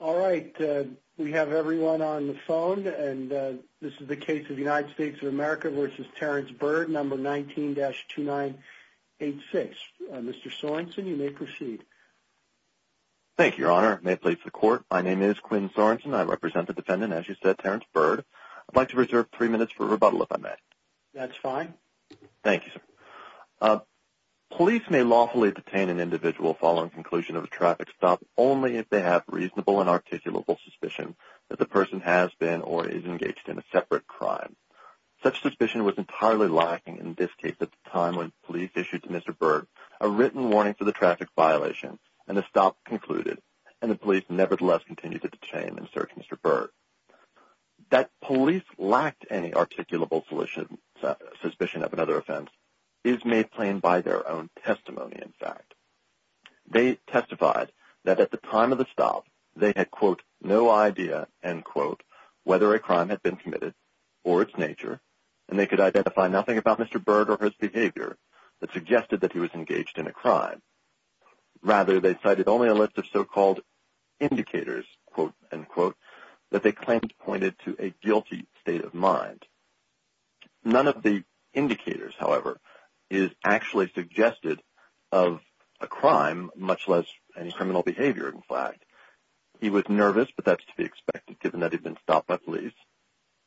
All right we have everyone on the phone and this is the case of the United States of America v. Terrence Byrd number 19-2986. Mr. Sorensen you may proceed. Thank you your honor. May it please the court my name is Quinn Sorensen I represent the defendant as you said Terrence Byrd. I'd like to reserve three minutes for rebuttal if I may. That's fine. Thank you sir. Police may lawfully detain an individual following conclusion of a traffic stop only if they have reasonable and articulable suspicion that the person has been or is engaged in a separate crime. Such suspicion was entirely lacking in this case at the time when police issued to Mr. Byrd a written warning for the traffic violation and the stop concluded and the police nevertheless continue to detain and search Mr. Byrd. That police lacked any articulable solution suspicion of another offense is made plain by their own testimony in fact. They testified that at the time of the stop they had quote no idea end quote whether a crime had been committed or its nature and they could identify nothing about Mr. Byrd or his behavior that suggested that he was engaged in a crime. Rather they cited only a list of so-called indicators quote end quote that they claimed pointed to a guilty state of mind. None of the indicators however is actually suggested of a crime much less any criminal behavior in fact. He was nervous but that's to be expected given that he'd been stopped by police.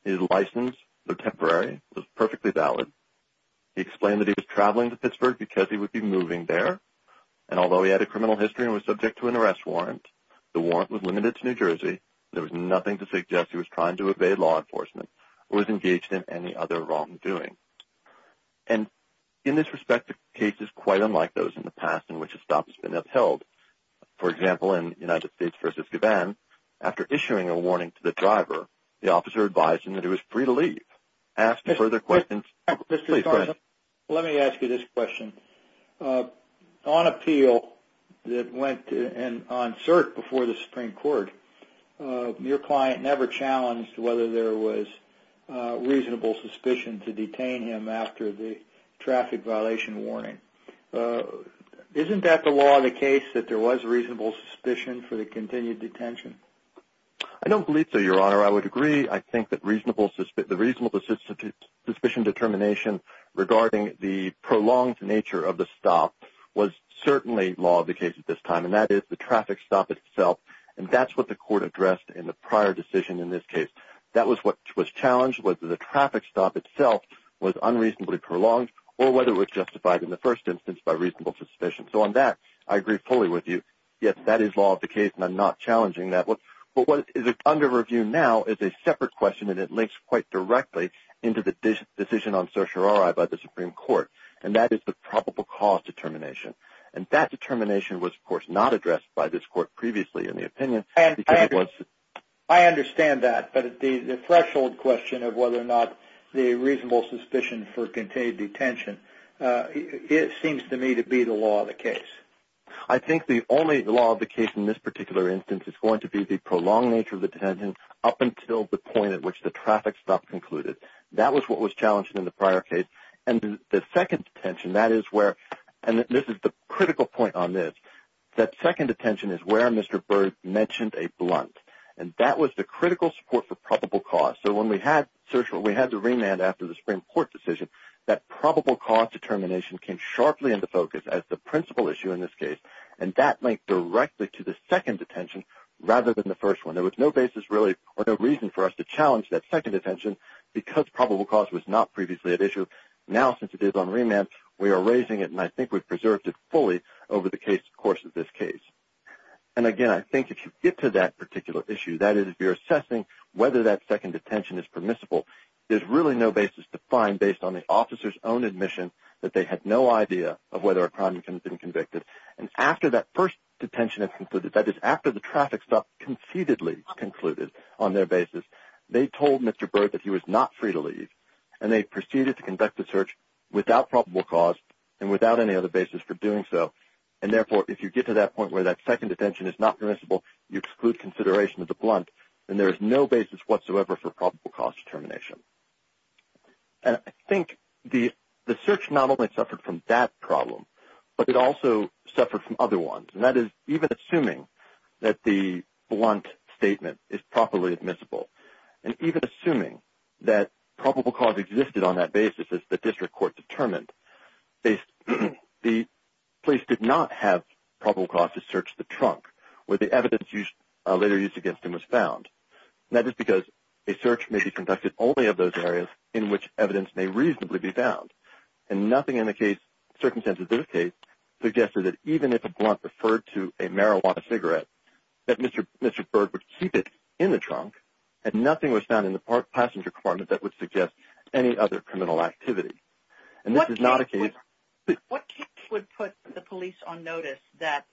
His license the temporary was perfectly valid. He explained that he was traveling to Pittsburgh because he would be moving there and although he had a criminal history and was subject to an arrest warrant the warrant was limited to New Jersey there was nothing to suggest he was trying to evade law enforcement or was engaged in any other wrongdoing. And in this respect the case is quite unlike those in the past in which a stop has been upheld. For example in the United States versus Gabon after issuing a warning to the driver the officer advised him that it was free to leave. Asked further questions. Let me ask you this question. On appeal that went and on search before the Supreme Court your client never challenged whether there was reasonable suspicion to detain him after the traffic violation warning. Isn't that the law of the case that there was a reasonable suspicion for the continued detention? I don't believe so your honor. I would agree I think that the reasonable suspicion determination regarding the prolonged nature of the stop was certainly law of the case at this time and that is the traffic stop itself and that's what the court addressed in the prior decision in this case. That was what was challenged whether the traffic stop itself was unreasonably prolonged or whether it was justified in the first instance by reasonable suspicion. So on that I agree fully with you. Yes that is law of the case and I'm not challenging that. But what is under review now is a separate question and it links quite directly into the decision on certiorari by the Supreme Court and that is the probable cause determination. And that determination was of course not previously in the opinion. I understand that but the threshold question of whether or not the reasonable suspicion for continued detention it seems to me to be the law of the case. I think the only law of the case in this particular instance is going to be the prolonged nature of the detention up until the point at which the traffic stop concluded. That was what was challenged in the prior case and the second detention that is where and this is the where Mr. Byrd mentioned a blunt and that was the critical support for probable cause. So when we had certiorari we had the remand after the Supreme Court decision that probable cause determination came sharply into focus as the principal issue in this case and that linked directly to the second detention rather than the first one. There was no basis really or no reason for us to challenge that second detention because probable cause was not previously at issue. Now since it is on remand we are raising it and I think we preserved it fully over the course of this case. And again I think if you get to that particular issue that is if you're assessing whether that second detention is permissible there's really no basis to find based on the officer's own admission that they had no idea of whether a crime had been convicted and after that first detention had concluded that is after the traffic stop concededly concluded on their basis they told Mr. Byrd that he was not free to leave and they proceeded to conduct the search without probable cause and without any other basis for doing so and therefore if you get to that point where that second detention is not permissible you exclude consideration of the blunt and there is no basis whatsoever for probable cause determination. And I think the search not only suffered from that problem but it also suffered from other ones and that is even assuming that the blunt statement is properly admissible and even assuming that probable cause existed on that basis as the district court determined. The police did not have probable cause to search the trunk where the evidence used later used against him was found. That is because a search may be conducted only of those areas in which evidence may reasonably be found and nothing in the case circumstances this case suggested that even if a blunt referred to a marijuana cigarette that Mr. Byrd would keep it in the trunk and nothing was found in the passenger compartment that would suggest any other criminal activity and this is not a case... What case would put the police on notice that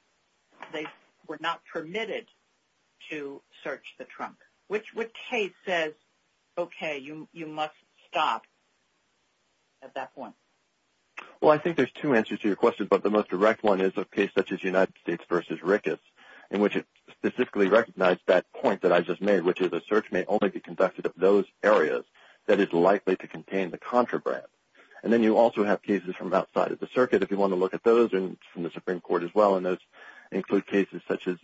they were not permitted to search the trunk? Which case says okay you must stop at that point? Well I think there's two answers to your question but the most direct one is a case such as United States v. Ricketts in which it specifically recognized that point that I just made which is a search may only be conducted of those areas that is likely to contain the contraband and then you also have cases from outside of the circuit if you want to look at those and from the Supreme Court as well and those include cases such as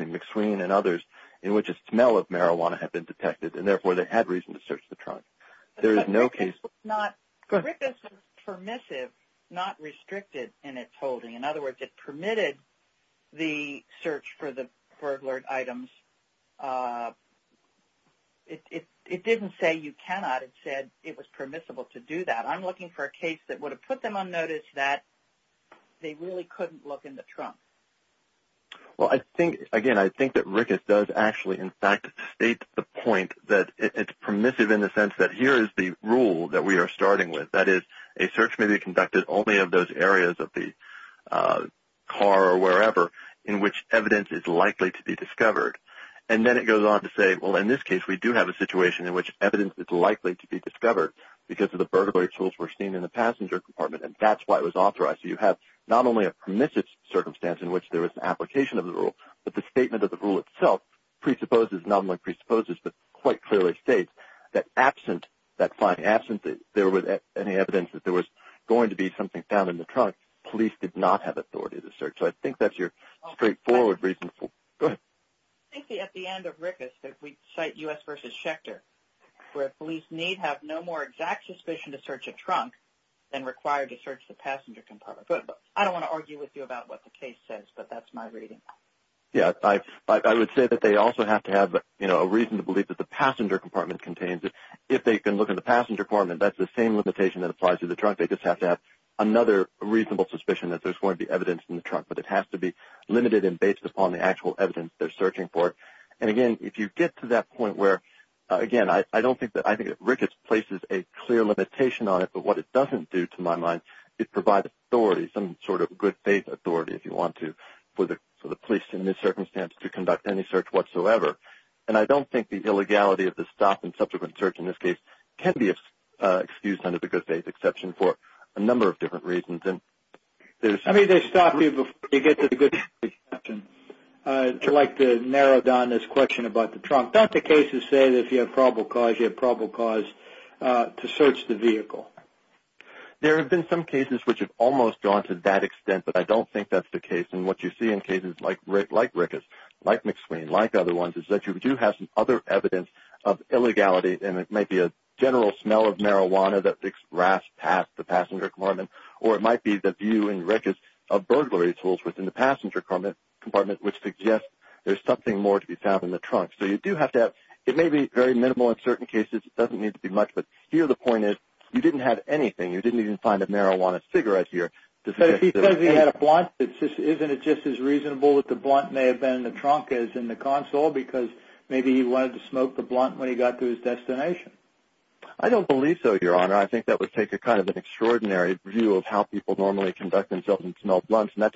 McSween and others in which a smell of marijuana had been detected and therefore they had reason to search the trunk. There is no case... Ricketts was permissive, not restricted in its holding. In other words it permitted the search for the items. It didn't say you cannot, it said it was permissible to do that. I'm looking for a case that would have put them on notice that they really couldn't look in the trunk. Well I think again I think that Ricketts does actually in fact state the point that it's permissive in the sense that here is the rule that we are starting with that is a search may be conducted only of those areas of the car or wherever in which evidence is likely to be discovered and then it goes on to say well in this case we do have a situation in which evidence is likely to be discovered because of the burglary tools were seen in the passenger compartment and that's why it was authorized. So you have not only a permissive circumstance in which there was an application of the rule but the statement of the rule itself presupposes, not only presupposes, but quite clearly states that absent that fine absence that there was any evidence that there was going to be something found in the trunk, police did not have authority to search. So I think that's your straightforward reasonable... I think at the end of Ricketts that we cite U.S. versus Schechter where police need have no more exact suspicion to search a trunk than required to search the passenger compartment. But I don't want to argue with you about what the case says but that's my reading. Yeah I would say that they also have to have you know a reason to believe that the passenger compartment contains it. If they can look in the passenger compartment that's the same limitation that applies to the trunk they just have to have another reasonable suspicion that there's going to be evidence in the trunk but it has to be limited and based upon the actual evidence they're searching for. And again if you get to that point where again I don't think that I think Ricketts places a clear limitation on it but what it doesn't do to my mind it provides authority, some sort of good faith authority if you want to, for the police in this circumstance to conduct any search whatsoever. And I don't think the illegality of the stop and subsequent search in this case can be excused under the good faith exception for a number of different reasons. And there's... I mean they stop you before you get to the good faith exception. I'd like to narrow down this question about the trunk. Don't the cases say that if you have probable cause you have probable cause to search the vehicle? There have been some cases which have almost gone to that extent but I don't think that's the case and what you see in cases like Ricketts, like McSween, like other ones is that you do have some other evidence of illegality and it might be a general smell of marijuana that rafts past the passenger compartment or it might be the view in Ricketts of burglary tools within the compartment which suggests there's something more to be found in the trunk. So you do have to have... it may be very minimal in certain cases, doesn't need to be much, but here the point is you didn't have anything. You didn't even find a marijuana cigarette here. But if he says he had a blunt, isn't it just as reasonable that the blunt may have been in the trunk as in the console because maybe he wanted to smoke the blunt when he got to his destination? I don't believe so, Your Honor. I think that would take a kind of an extraordinary view of how people normally conduct themselves and smell blunts and that's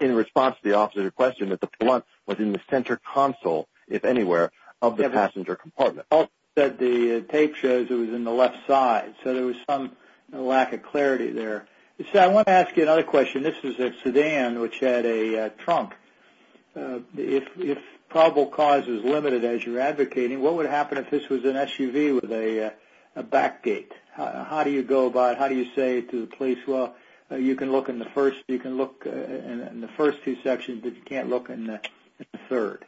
in response to the officer's question that the blunt was in the center console, if anywhere, of the passenger compartment. Also, the tape shows it was in the left side so there was some lack of clarity there. So I want to ask you another question. This is a sedan which had a trunk. If probable cause is limited as you're advocating, what would happen if this was an SUV with a back gate? How do you go about... how do you say to the police, well, you can look in the first... you can look in the first two sections, but you can't look in the third?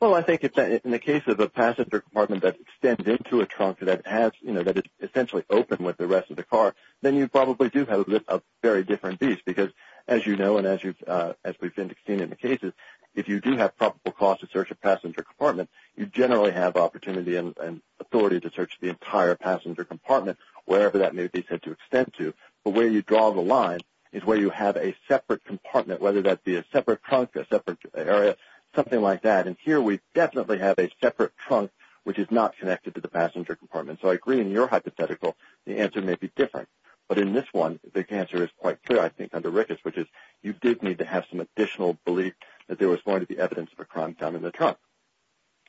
Well, I think in the case of a passenger compartment that extends into a trunk that has, you know, that is essentially open with the rest of the car, then you probably do have a very different beast because, as you know, and as we've seen in the cases, if you do have probable cause to search a passenger compartment, you generally have opportunity and authority to search the entire passenger compartment, wherever that may be said to extend to. But where you draw the line is where you have a separate compartment, whether that be a separate trunk, a separate area, something like that. And here we definitely have a separate trunk which is not connected to the passenger compartment. So I agree in your hypothetical, the answer may be different. But in this one, the answer is quite clear, I think, under Ricketts, which is you did need to have some additional belief that there was going to be evidence of a crime found in the trunk.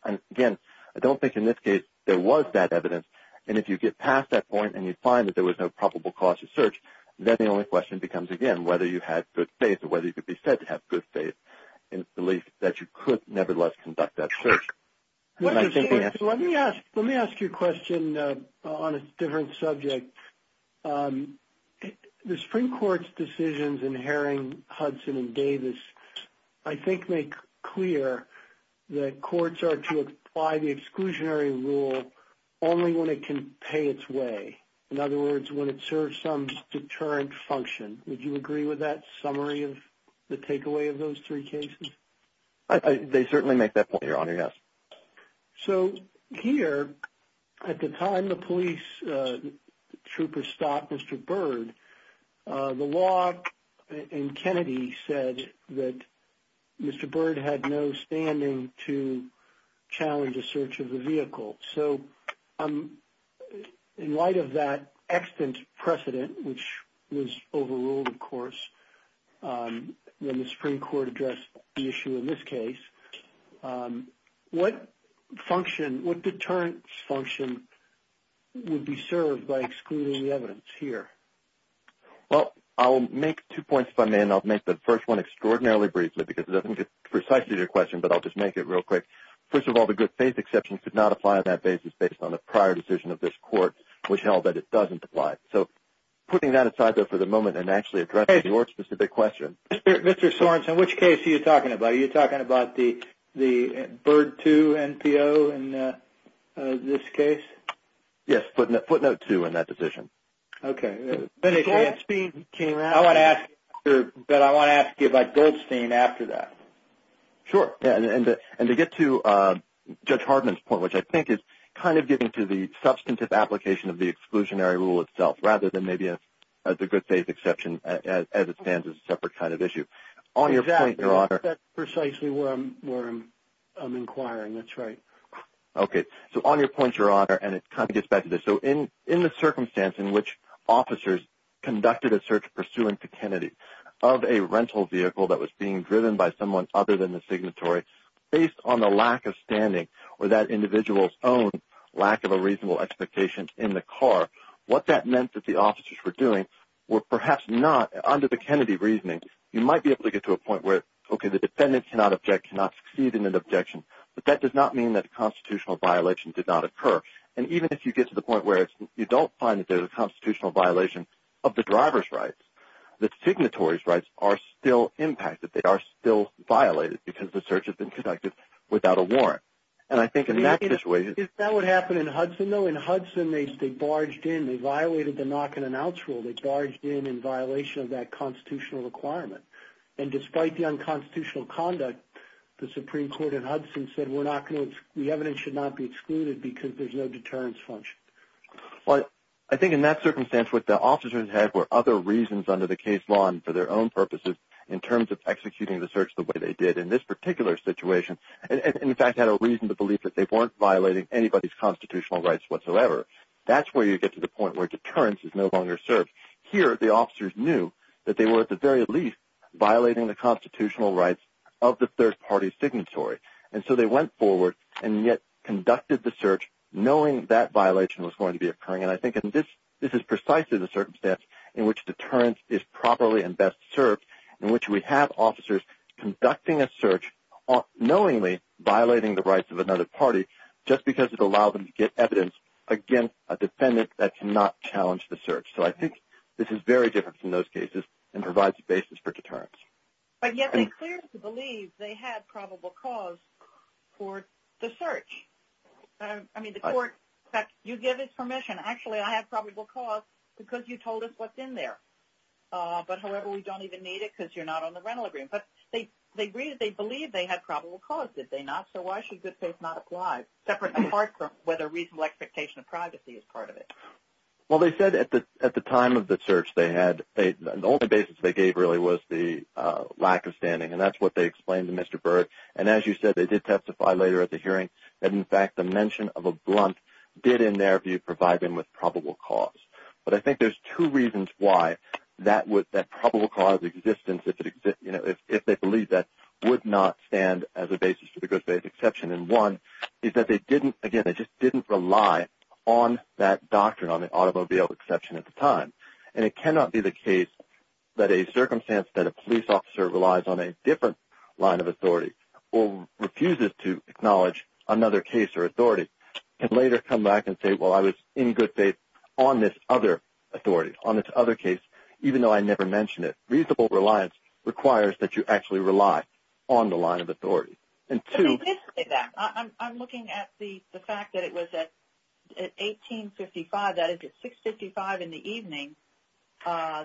And again, I don't think in this case there was that evidence. And if you get past that point and you find that there was no probable cause to search, then the only question becomes, again, whether you had good faith or whether you could be said to have good faith and belief that you could nevertheless conduct that search. Let me ask you a question on a different subject. The Supreme Court's decisions in Haring, Hudson, and Davis, I think, make clear that courts are to apply the exclusionary rule only when it can pay its way. In other words, when it serves some deterrent function. Would you agree with that summary of the takeaway of those three cases? They certainly make that point, Your Honor, yes. So here, at the time the police troopers stopped Mr. Byrd, the law in Kennedy said that Mr. So, in light of that extant precedent, which was overruled, of course, when the Supreme Court addressed the issue in this case, what deterrent function would be served by excluding the evidence here? Well, I'll make two points, if I may, and I'll make the first one extraordinarily briefly because it doesn't get precisely to your question, but I'll just make it real quick. First of all, the good faith exception could not apply on that basis based on the prior decision of this court, which held that it doesn't apply. So, putting that aside, though, for the moment and actually addressing your specific question. Mr. Sorensen, which case are you talking about? Are you talking about the Byrd 2 NPO in this case? Yes, footnote 2 in that decision. Okay. I want to ask you about Goldstein after that. Sure. And to get to Judge Hardman's point, which I think is kind of getting to the substantive application of the exclusionary rule itself, rather than maybe the good faith exception as it stands as a separate kind of issue. On your point, Your Honor. That's precisely where I'm inquiring. That's right. Okay. So, on your point, Your Honor, and it kind of gets back to this. So, in the circumstance in which officers conducted a search pursuant to Kennedy of a rental vehicle that was being driven by someone other than the signatory, based on the lack of standing or that individual's own lack of a reasonable expectation in the car, what that meant that the officers were doing were perhaps not, under the Kennedy reasoning, you might be able to get to a point where, okay, the defendant cannot object, cannot succeed in an objection, but that does not mean that the constitutional violation did not occur. And even if you get to the point where you don't find that there's a constitutional violation of the driver's license, the signatory's rights are still impacted. They are still violated because the search has been conducted without a warrant. And I think in that situation... Is that what happened in Hudson, though? In Hudson, they barged in. They violated the knock-and-announce rule. They barged in in violation of that constitutional requirement. And despite the unconstitutional conduct, the Supreme Court in Hudson said we're not going to... the evidence should not be excluded because there's no deterrence function. Well, I think in that situation, the officers, under the case law and for their own purposes, in terms of executing the search the way they did in this particular situation, in fact, had a reason to believe that they weren't violating anybody's constitutional rights whatsoever. That's where you get to the point where deterrence is no longer served. Here, the officers knew that they were, at the very least, violating the constitutional rights of the third party's signatory. And so they went forward and yet conducted the search knowing that violation was going to be occurring. And I think this is precisely the circumstance in which deterrence is properly and best served, in which we have officers conducting a search, knowingly violating the rights of another party, just because it allowed them to get evidence against a defendant that cannot challenge the search. So I think this is very different from those cases and provides a basis for deterrence. But yet they clearly believed they had probable cause for the search. I mean, the court, in fact, you give us permission. Actually, I have probable cause because you told us what's in there. But, however, we don't even need it because you're not on the rental agreement. But they agreed, they believed they had probable cause, did they not? So why should good faith not apply, separate and apart from whether reasonable expectation of privacy is part of it? Well, they said at the time of the search they had, the only basis they gave really was the lack of standing. And that's what they explained to Mr. Berg. And as you said, they did testify later at the hearing that, in fact, the mention of a blunt did, in their two reasons why that probable cause of existence, if they believed that, would not stand as a basis for the good faith exception. And one is that they didn't, again, they just didn't rely on that doctrine on the automobile exception at the time. And it cannot be the case that a circumstance that a police officer relies on a different line of authority or refuses to acknowledge another case or authority can later come back and say, well, I was in good faith on this other authority, on this other case, even though I never mentioned it. Reasonable reliance requires that you actually rely on the line of authority. And two... I'm looking at the fact that it was at 1855, that is at 655 in the evening,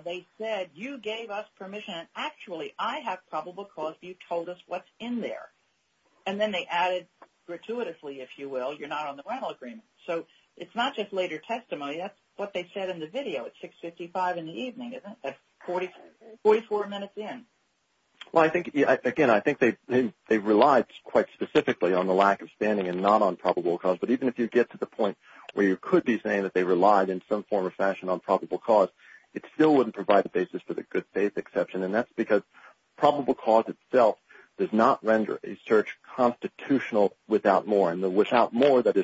they said, you gave us permission. Actually, I have probable cause. You told us what's in there. And then they added, gratuitously, if you will, you're not on the rental agreement. So it's not just later testimony. That's what they said in the video at 655 in the evening, isn't it? That's 44 minutes in. Well, I think, again, I think they relied quite specifically on the lack of standing and not on probable cause. But even if you get to the point where you could be saying that they relied in some form or fashion on probable cause, it still wouldn't provide the basis for the good faith exception. And that's because what's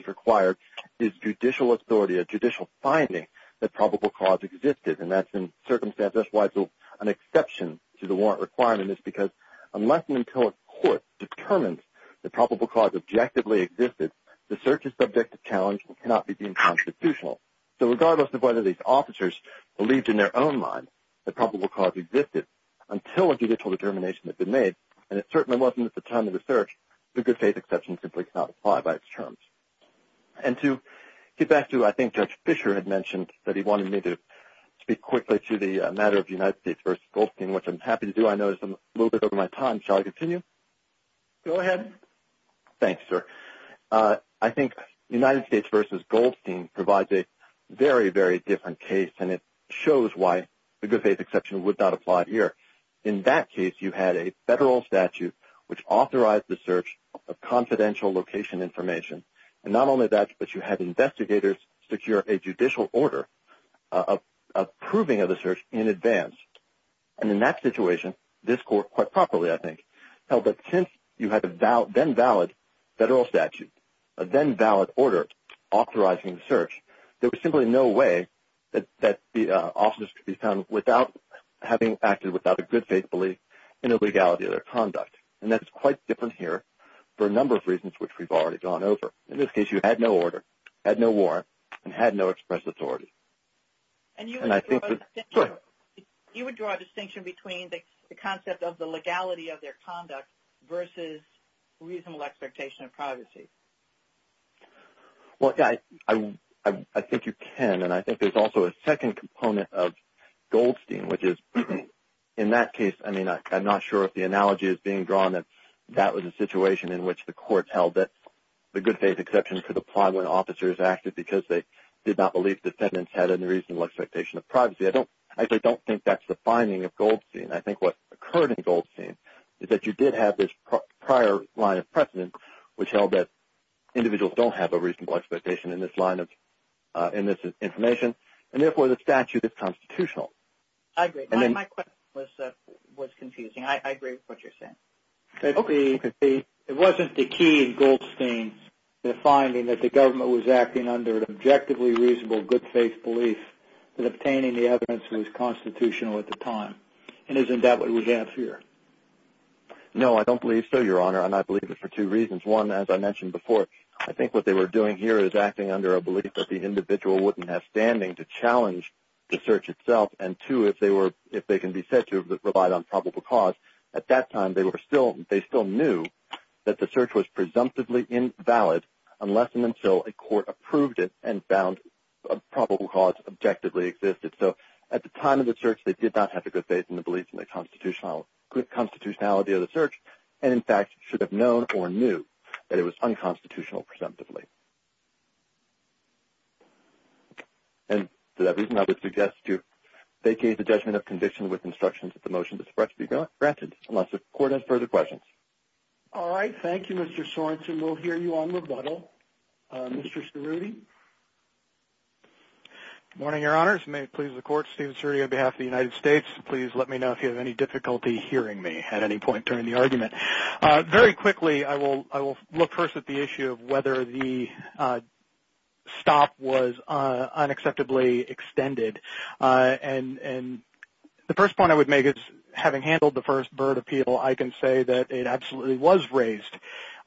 required is judicial authority, a judicial finding that probable cause existed. And that's in circumstances why it's an exception to the warrant requirement. It's because unless and until a court determines that probable cause objectively existed, the search is subject to challenge and cannot be deemed constitutional. So regardless of whether these officers believed in their own mind that probable cause existed, until a judicial determination had been made, and it certainly wasn't at the time of the search, the good faith exception simply cannot apply by its terms. And to get back to, I think, Judge Fischer had mentioned that he wanted me to speak quickly to the matter of United States v. Goldstein, which I'm happy to do. I know it's a little bit over my time. Shall I continue? Go ahead. Thanks, sir. I think United States v. Goldstein provides a very, very different case, and it shows why the good faith exception would not apply here. In that case, you had a federal statute which authorized the search of confidential location information. And not only that, but you had investigators secure a judicial order approving of the search in advance. And in that situation, this court, quite properly, I think, held that since you had a then valid federal statute, a then valid order authorizing the search, there was simply no way that the officers could be found without having acted without a good faith belief in the legality of their conduct. And that's quite different here for a number of reasons which we've already gone over. In this case, you had no order, had no warrant, and had no express authority. And you would draw a distinction between the concept of the legality of their conduct versus reasonable expectation of privacy? Well, yeah, I think you can. And I think there's also a second component of Goldstein, which is, in that case, I mean, I'm not sure if the analogy is being drawn, that that was a situation in which the court held that the good faith exception could apply when officers acted because they did not believe defendants had any reasonable expectation of privacy. I don't think that's the finding of Goldstein. I think what occurred in Goldstein is that you did have this prior line of precedent which held that individuals don't have a reasonable expectation in this line of, in this information. And therefore, the statute is constitutional. I agree. My question was confusing. I agree with what you're saying. Okay. It wasn't the key in Goldstein, the finding that the government was acting under an objectively reasonable good faith belief that obtaining the evidence was constitutional at the time. And isn't that what we have here? No, I don't believe so, Your Honor. And I believe it for two reasons. One, as I mentioned before, I think what they were doing here is acting under a belief that the individual wouldn't have standing to challenge the search itself. And two, if they were, if they can be said to have relied on probable cause, at that time they were still, they still knew that the search was presumptively invalid unless and until a court approved it and found a probable cause objectively existed. So at the time of the search they did not have a good faith in the beliefs in the constitutionality of the search and in fact should have known or knew that it was unconstitutional presumptively. And that reason I would suggest to vacate the motion that's about to be granted unless the court has further questions. All right, thank you, Mr. Sorensen. We'll hear you on rebuttal. Mr. Cerruti. Good morning, Your Honors. May it please the Court, Steven Cerruti on behalf of the United States. Please let me know if you have any difficulty hearing me at any point during the argument. Very quickly, I will look first at the issue of whether the stop was unacceptably extended. And the first point I would make is, having handled the first Byrd appeal, I can say that it absolutely was raised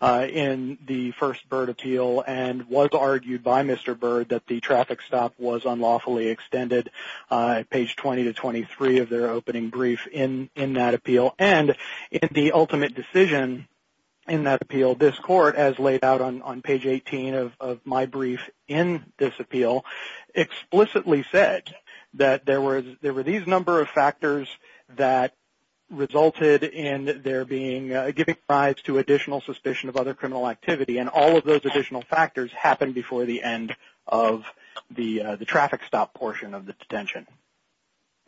in the first Byrd appeal and was argued by Mr. Byrd that the traffic stop was unlawfully extended, page 20 to 23 of their opening brief in that appeal. And in the ultimate decision in that appeal, this Court, as laid out on page 18 of my brief in this appeal, explicitly said that there were these number of factors that resulted in there being giving rise to additional suspicion of other criminal activity. And all of those additional factors happened before the end of the traffic stop portion of the detention.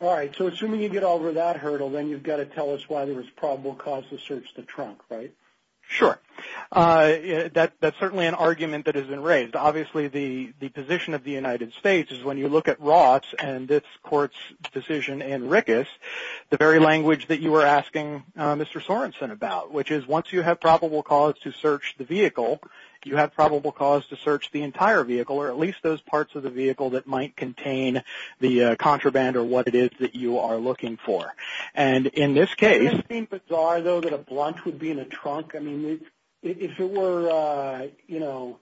All right, so assuming you get over that hurdle, then you've got to tell us why there was probable cause to search the trunk, right? Sure. That's certainly an argument that has been raised. Obviously, the position of the United States is, when you look at Roth's and this Court's decision in Rickus, the very language that you were asking Mr. Sorensen about, which is, once you have probable cause to search the vehicle, you have probable cause to search the entire vehicle, or at least those parts of the vehicle that might contain the contraband or what it is that you are looking for. And in this case... Wouldn't it seem bizarre, though, that a blunt would be in a trunk? I mean, if it were, you know,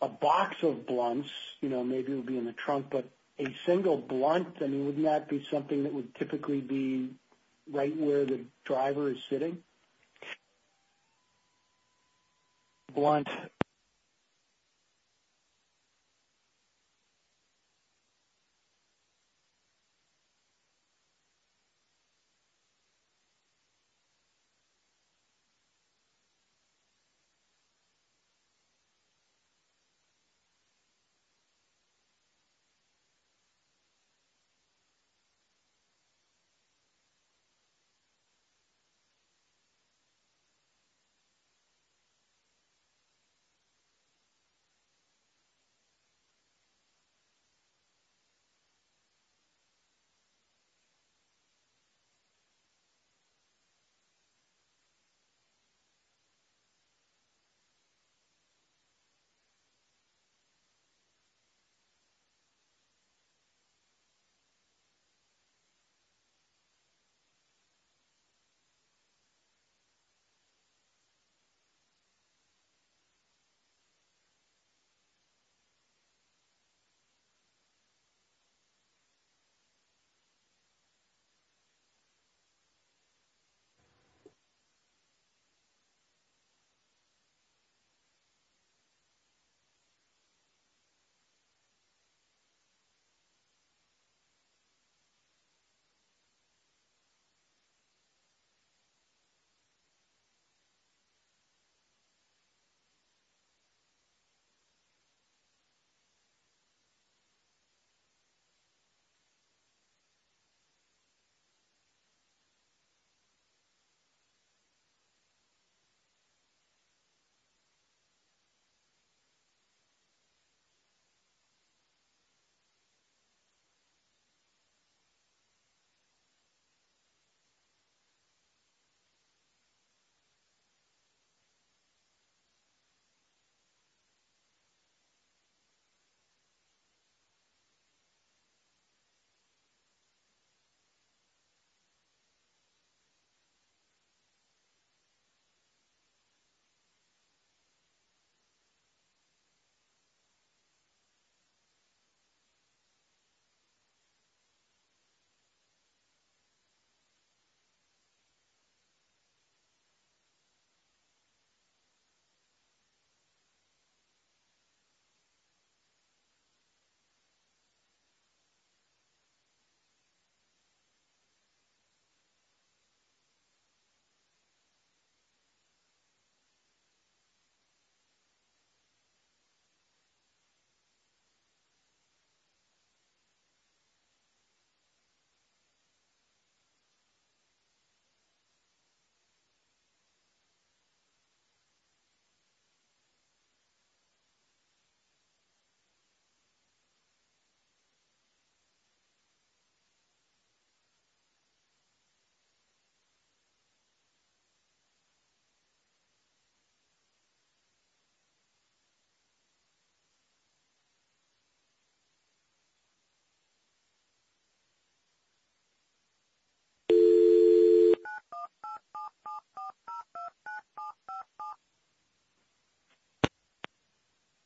a box of blunts, you know, maybe it would be in the trunk, but a single blunt, I mean, wouldn't that be something that would typically be right where the driver is sitting?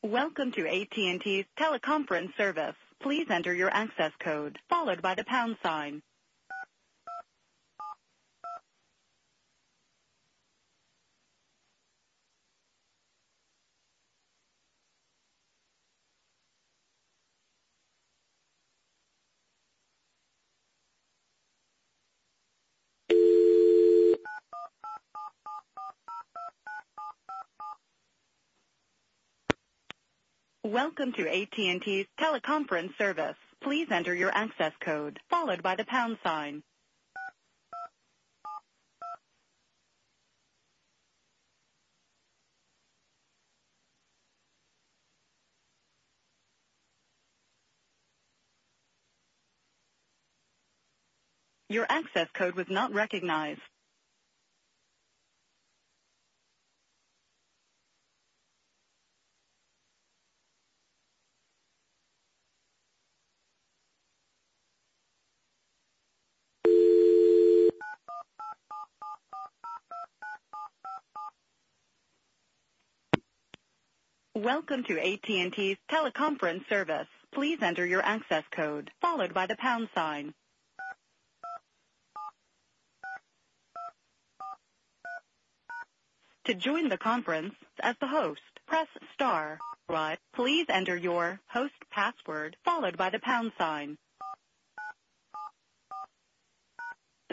Welcome to AT&T teleconference service. Please enter your access code, followed by the pound sign. Welcome to AT&T teleconference service. Please enter your access code, followed by the pound sign. Your access code was not recognized. Welcome to AT&T teleconference service. Please enter your access code, followed by the pound sign. Welcome to AT&T teleconference service. Please enter your access code, followed by the pound sign.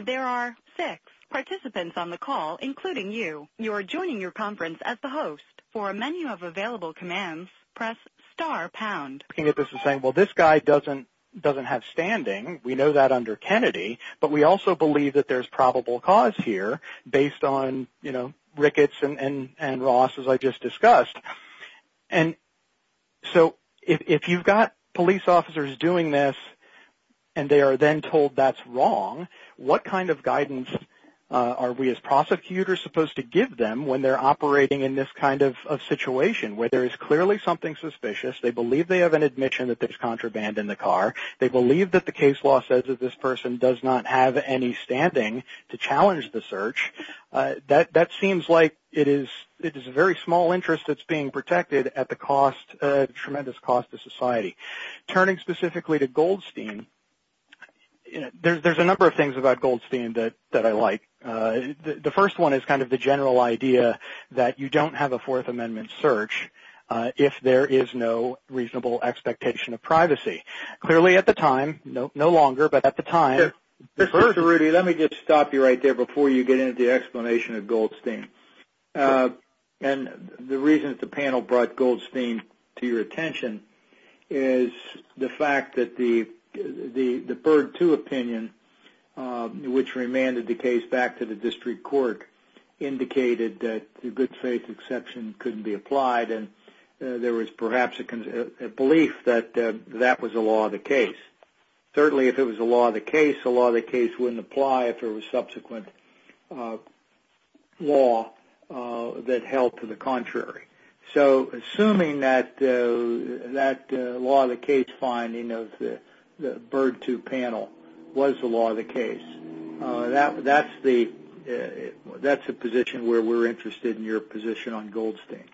There are six participants on the call, including you. You are joining your conference as the host. For a menu of available commands, press star pound. Well, this guy doesn't have standing. We know that under Kennedy, but we also believe that there's probable cause here based on, you know, Ricketts and Ross, as I just discussed. And so if you've got police officers doing this and they are then told that's wrong, what kind of guidance are we as prosecutors supposed to give them when they're operating in this kind of situation where there is clearly something suspicious, they believe they have an admission that there's contraband in the car, they believe that the case law says that this person does not have any standing to challenge the search. That seems like it is a very small interest that's being protected at the cost, tremendous cost to society. Turning specifically to Goldstein, there's a number of things about Goldstein that I like. The first one is kind of the general idea that you don't have a Fourth Amendment search if there is no reasonable expectation of privacy. Clearly at the time, no longer, but at the time. Mr. Rudy, let me just stop you right there before you get into the explanation of Goldstein. And the reason that the panel brought Goldstein to your attention is the fact that the BERG II opinion, which remanded the case back to the district court, indicated that the good faith exception couldn't be applied and there was perhaps a belief that that was the law of the case. Certainly if it was the law of the case, the law of the case wouldn't apply if there was subsequent law that held to the contrary. So assuming that the law of the case finding of the BERG II panel was the law of the case, that's a position where we're interested in your position on Goldstein.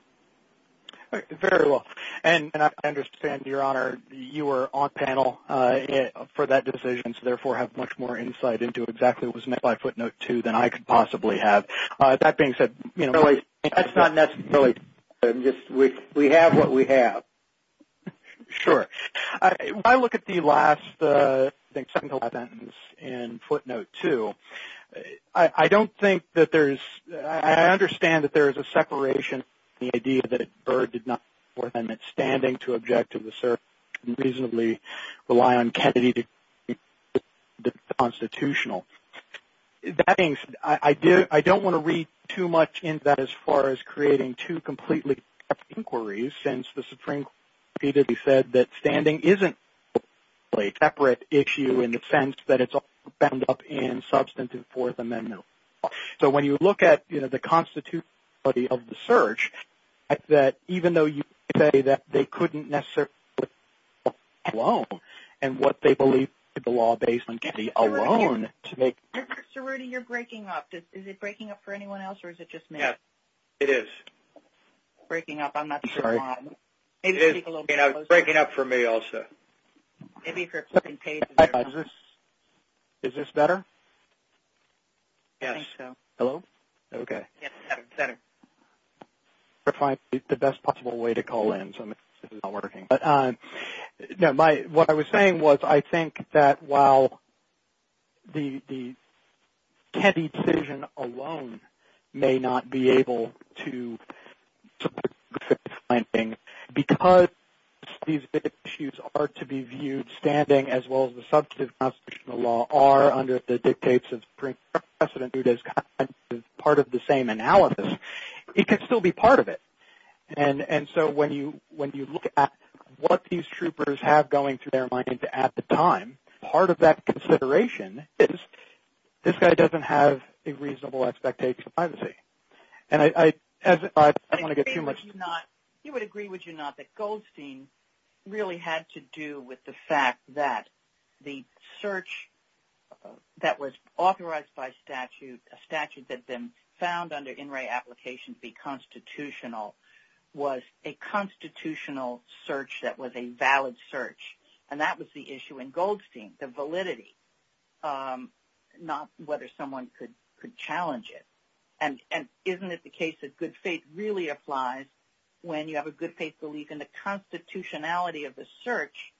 Very well. And I understand, Your Honor, you were on panel for that decision, so therefore have much more insight into exactly what was meant by footnote two than I could possibly have. That being said, that's not necessarily true. We have what we have. Sure. When I look at the last, I think, 7-11s and footnote two, I don't think that there's – I understand that there is a separation in the idea that BERG did not stand to object to the search and reasonably rely on Kennedy to be constitutional. That being said, I don't want to read too much into that as far as creating two completely separate inquiries since the Supreme Court repeatedly said that standing isn't a separate issue in the sense that it's all bound up in substantive Fourth Amendment law. Mr. Rudy, you're breaking up. Is it breaking up for anyone else or is it just me? Yes, it is. Breaking up, I'm not sure why. Maybe speak a little bit closer. It's breaking up for me also. Is this better? Yes. Hello? Okay. Yes, better. I'm trying to find the best possible way to call in. This is not working. What I was saying was I think that while the Kennedy decision alone may not be able to – because these issues are to be viewed standing as well as the substantive constitutional law are under the dictates of Supreme Court precedent. It's not viewed as part of the same analysis. It could still be part of it. And so when you look at what these troopers have going through their mind at the time, part of that consideration is this guy doesn't have a reasonable expectation of privacy. And I don't want to get too much – You would agree, would you not, that Goldstein really had to do with the fact that the search that was authorized by statute, a statute that then found under NRA application to be constitutional, was a constitutional search that was a valid search. And that was the issue in Goldstein, the validity, not whether someone could challenge it. And isn't it the case that good faith really applies when you have a good faith belief in the constitutionality of the search,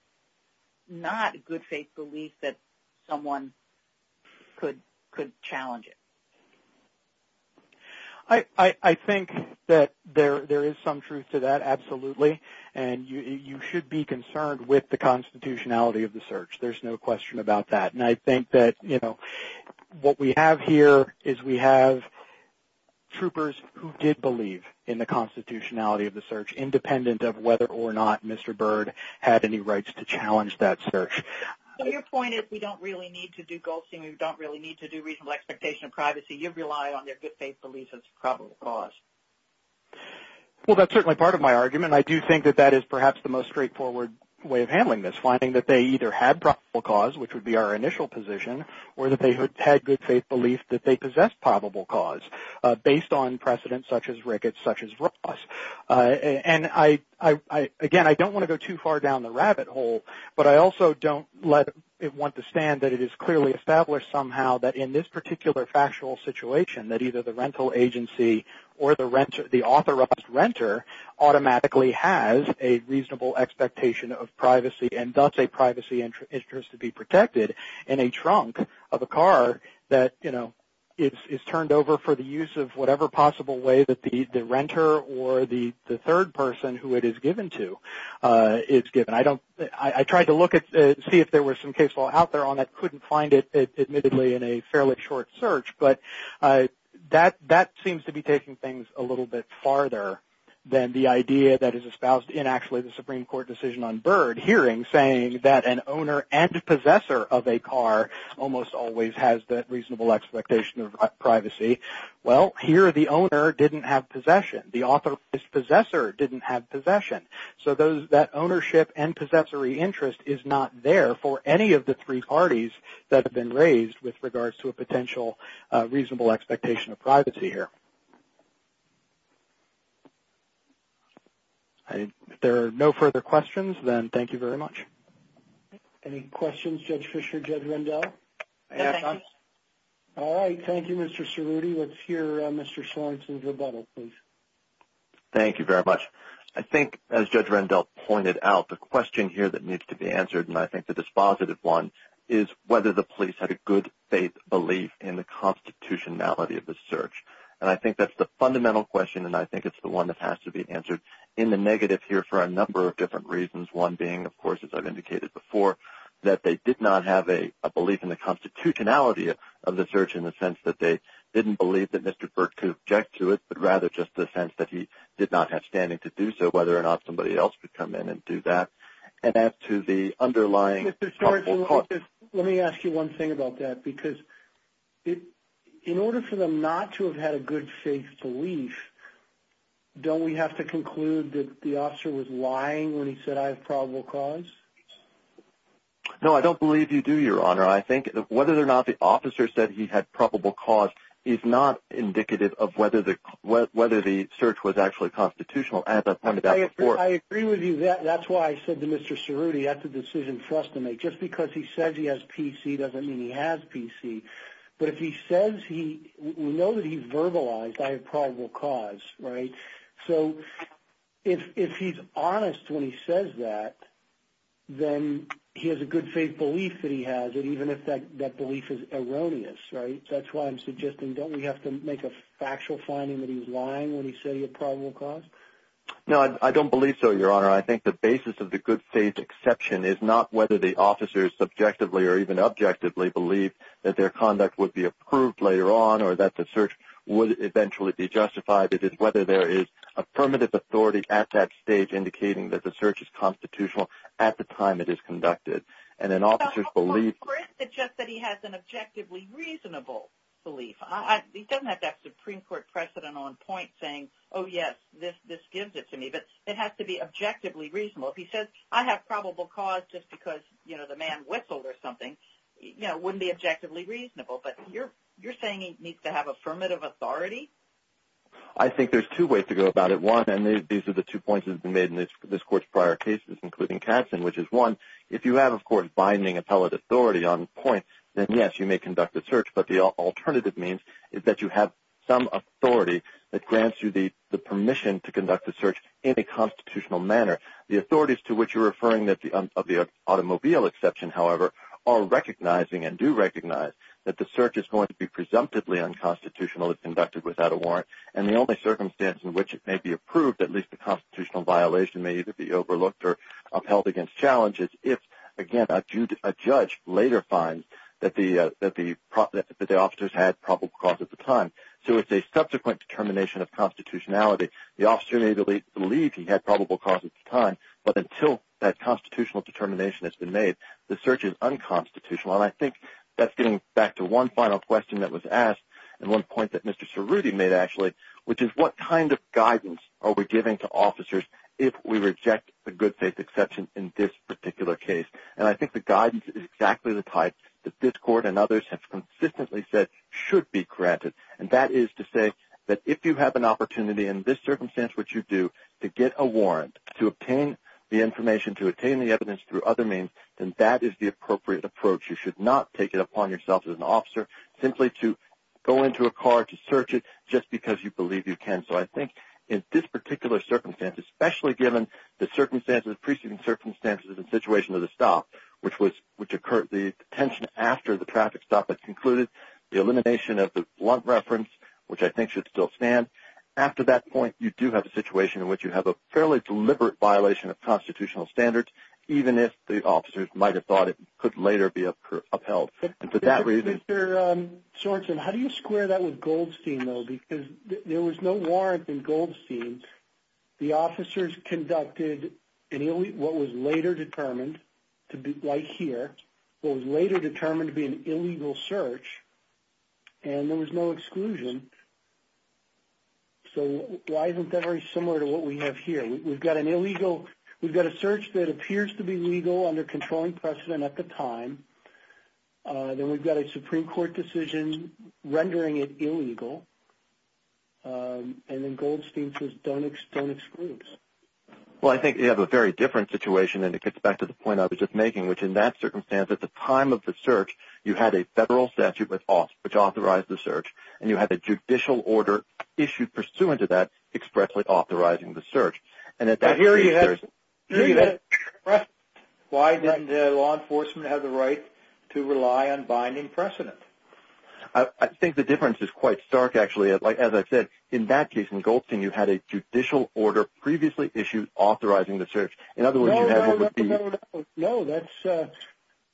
not a good faith belief that someone could challenge it. I think that there is some truth to that, absolutely. And you should be concerned with the constitutionality of the search. There's no question about that. And I think that what we have here is we have troopers who did believe in the constitutionality of the search, independent of whether or not Mr. Byrd had any rights to challenge that search. So your point is we don't really need to do Goldstein, we don't really need to do reasonable expectation of privacy. You rely on their good faith belief as probable cause. Well, that's certainly part of my argument. I do think that that is perhaps the most straightforward way of handling this, finding that they either had probable cause, which would be our initial position, or that they had good faith belief that they possessed probable cause, based on precedents such as Ricketts, such as Ross. And, again, I don't want to go too far down the rabbit hole, but I also don't want to stand that it is clearly established somehow that in this particular factual situation, that either the rental agency or the authorized renter automatically has a reasonable expectation of privacy, and thus a privacy interest to be protected in a trunk of a car that is turned over for the use of whatever possible way that the renter or the authorized renter, or the third person who it is given to, is given. I tried to look and see if there was some case law out there on that, couldn't find it, admittedly, in a fairly short search. But that seems to be taking things a little bit farther than the idea that is espoused in actually the Supreme Court decision on Byrd, hearing, saying that an owner and a possessor of a car almost always has that reasonable expectation of privacy. Well, here the owner didn't have possession. The authorized possessor didn't have possession. So that ownership and possessory interest is not there for any of the three parties that have been raised with regards to a potential reasonable expectation of privacy here. If there are no further questions, then thank you very much. Any questions, Judge Fischer, Judge Rendell? No, thank you. All right, thank you, Mr. Cerruti. Let's hear Mr. Sorensen's rebuttal, please. Thank you very much. I think, as Judge Rendell pointed out, the question here that needs to be answered, and I think the dispositive one, is whether the police had a good faith belief in the constitutionality of the search. And I think that's the fundamental question, and I think it's the one that has to be answered in the negative here for a number of different reasons. One being, of course, as I've indicated before, that they did not have a belief in the constitutionality of the search in the sense that they didn't believe that Mr. Burke could object to it, but rather just the sense that he did not have standing to do so, whether or not somebody else could come in and do that. And as to the underlying... Mr. Sorensen, let me ask you one thing about that, because in order for them not to have had a good faith belief, don't we have to conclude that the officer was lying when he said, I have probable cause? No, I don't believe you do, Your Honor. I think whether or not the officer said he had probable cause is not indicative of whether the search was actually constitutional, as I pointed out before. I agree with you. That's why I said to Mr. Cerruti, that's a decision for us to make. Just because he says he has PC doesn't mean he has PC. But if he says he...we know that he verbalized, I have probable cause, right? So, if he's honest when he says that, then he has a good faith belief that he has, and even if that belief is erroneous, right? That's why I'm suggesting, don't we have to make a factual finding that he was lying when he said he had probable cause? No, I don't believe so, Your Honor. I think the basis of the good faith exception is not whether the officers subjectively or even objectively believe that their conduct would be approved later on, or that the search would eventually be justified. It is whether there is affirmative authority at that stage indicating that the search is constitutional at the time it is conducted. And an officer's belief... So, for him, it's just that he has an objectively reasonable belief. He doesn't have that Supreme Court precedent on point saying, oh, yes, this gives it to me. But it has to be objectively reasonable. If he says, I have probable cause just because, you know, the man whistled or something, you know, it wouldn't be objectively reasonable. But you're saying he needs to have affirmative authority? I think there's two ways to go about it. One, and these are the two points that have been made in this Court's prior cases, including Katzen, which is one, if you have, of course, binding appellate authority on point, then yes, you may conduct the search. But the alternative means is that you have some authority that grants you the permission to conduct the search in a constitutional manner. The authorities to which you're referring of the automobile exception, however, are recognizing and do recognize that the search is going to be presumptively unconstitutional if conducted without a warrant. And the only circumstance in which it may be approved, at least a constitutional violation, may either be overlooked or upheld against challenges if, again, a judge later finds that the officers had probable cause at the time. So it's a subsequent determination of constitutionality. The officer may believe he had probable cause at the time, but until that constitutional determination has been made, the search is unconstitutional. And I think that's getting back to one final question that was asked, and one point that Mr. Cerruti made, actually, which is, what kind of guidance are we giving to officers if we reject the good faith exception in this particular case? And I think the guidance is exactly the type that this court and others have consistently said should be granted. And that is to say that if you have an opportunity in this circumstance, which you do, to get a warrant to obtain the information, to obtain the evidence through other means, then that is the appropriate approach. You should not take it upon yourself as an officer simply to go into a car to search it just because you believe you can. So I think in this particular circumstance, especially given the preceding circumstances and situation of the stop, which occurred the detention after the traffic stop had concluded, the elimination of the blunt reference, which I think should still stand. After that point, you do have a situation in which you have a fairly deliberate violation of constitutional standards, even if the officers might have thought it could later be upheld. And for that reason... Mr. Shortzen, how do you square that with Goldstein, though? Because there was no warrant in Goldstein. The officers conducted what was later determined, like here, what was later determined to be an illegal search, and there was no exclusion. So why isn't that very similar to what we have here? We've got a search that appears to be legal under controlling precedent at the time. Then we've got a Supreme Court decision rendering it illegal. And then Goldstein says, don't exclude us. Well, I think you have a very different situation, and it gets back to the point I was just making, which in that circumstance, at the time of the search, you had a federal statute which authorized the search, and you had a judicial order issued pursuant to that expressly authorizing the search. But here you have precedent. Why doesn't law enforcement have the right to rely on binding precedent? I think the difference is quite stark, actually. As I said, in that case, in Goldstein, you had a judicial order previously issued authorizing the search. In other words, you have what would be... No, that's...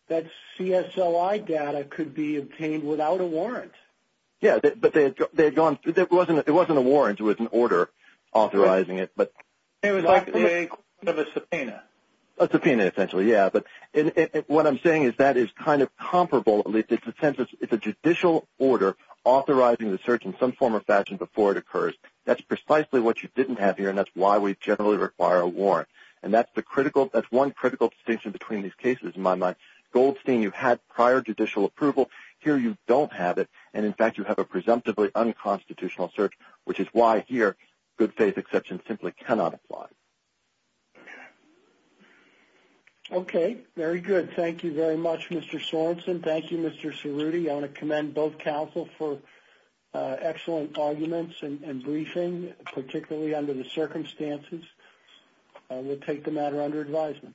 That CSLI data could be obtained without a warrant. Yeah, but they had gone... It wasn't a warrant. It was an order authorizing it, but... It was like a subpoena. A subpoena, essentially, yeah. But what I'm saying is that is kind of comparable. It's a judicial order authorizing the search in some form or fashion before it occurs. That's precisely what you didn't have here, and that's why we generally require a warrant. And that's the critical... That's one critical distinction between these cases, in my mind. Goldstein, you had prior judicial approval. Here you don't have it, and in fact, you have a presumptively unconstitutional search, which is why, here, good faith exception simply cannot apply. Okay, very good. Thank you very much, Mr. Sorensen. Thank you, Mr. Cerruti. I want to commend both counsel for excellent arguments and briefing, particularly under the circumstances. We'll take the matter under advisement.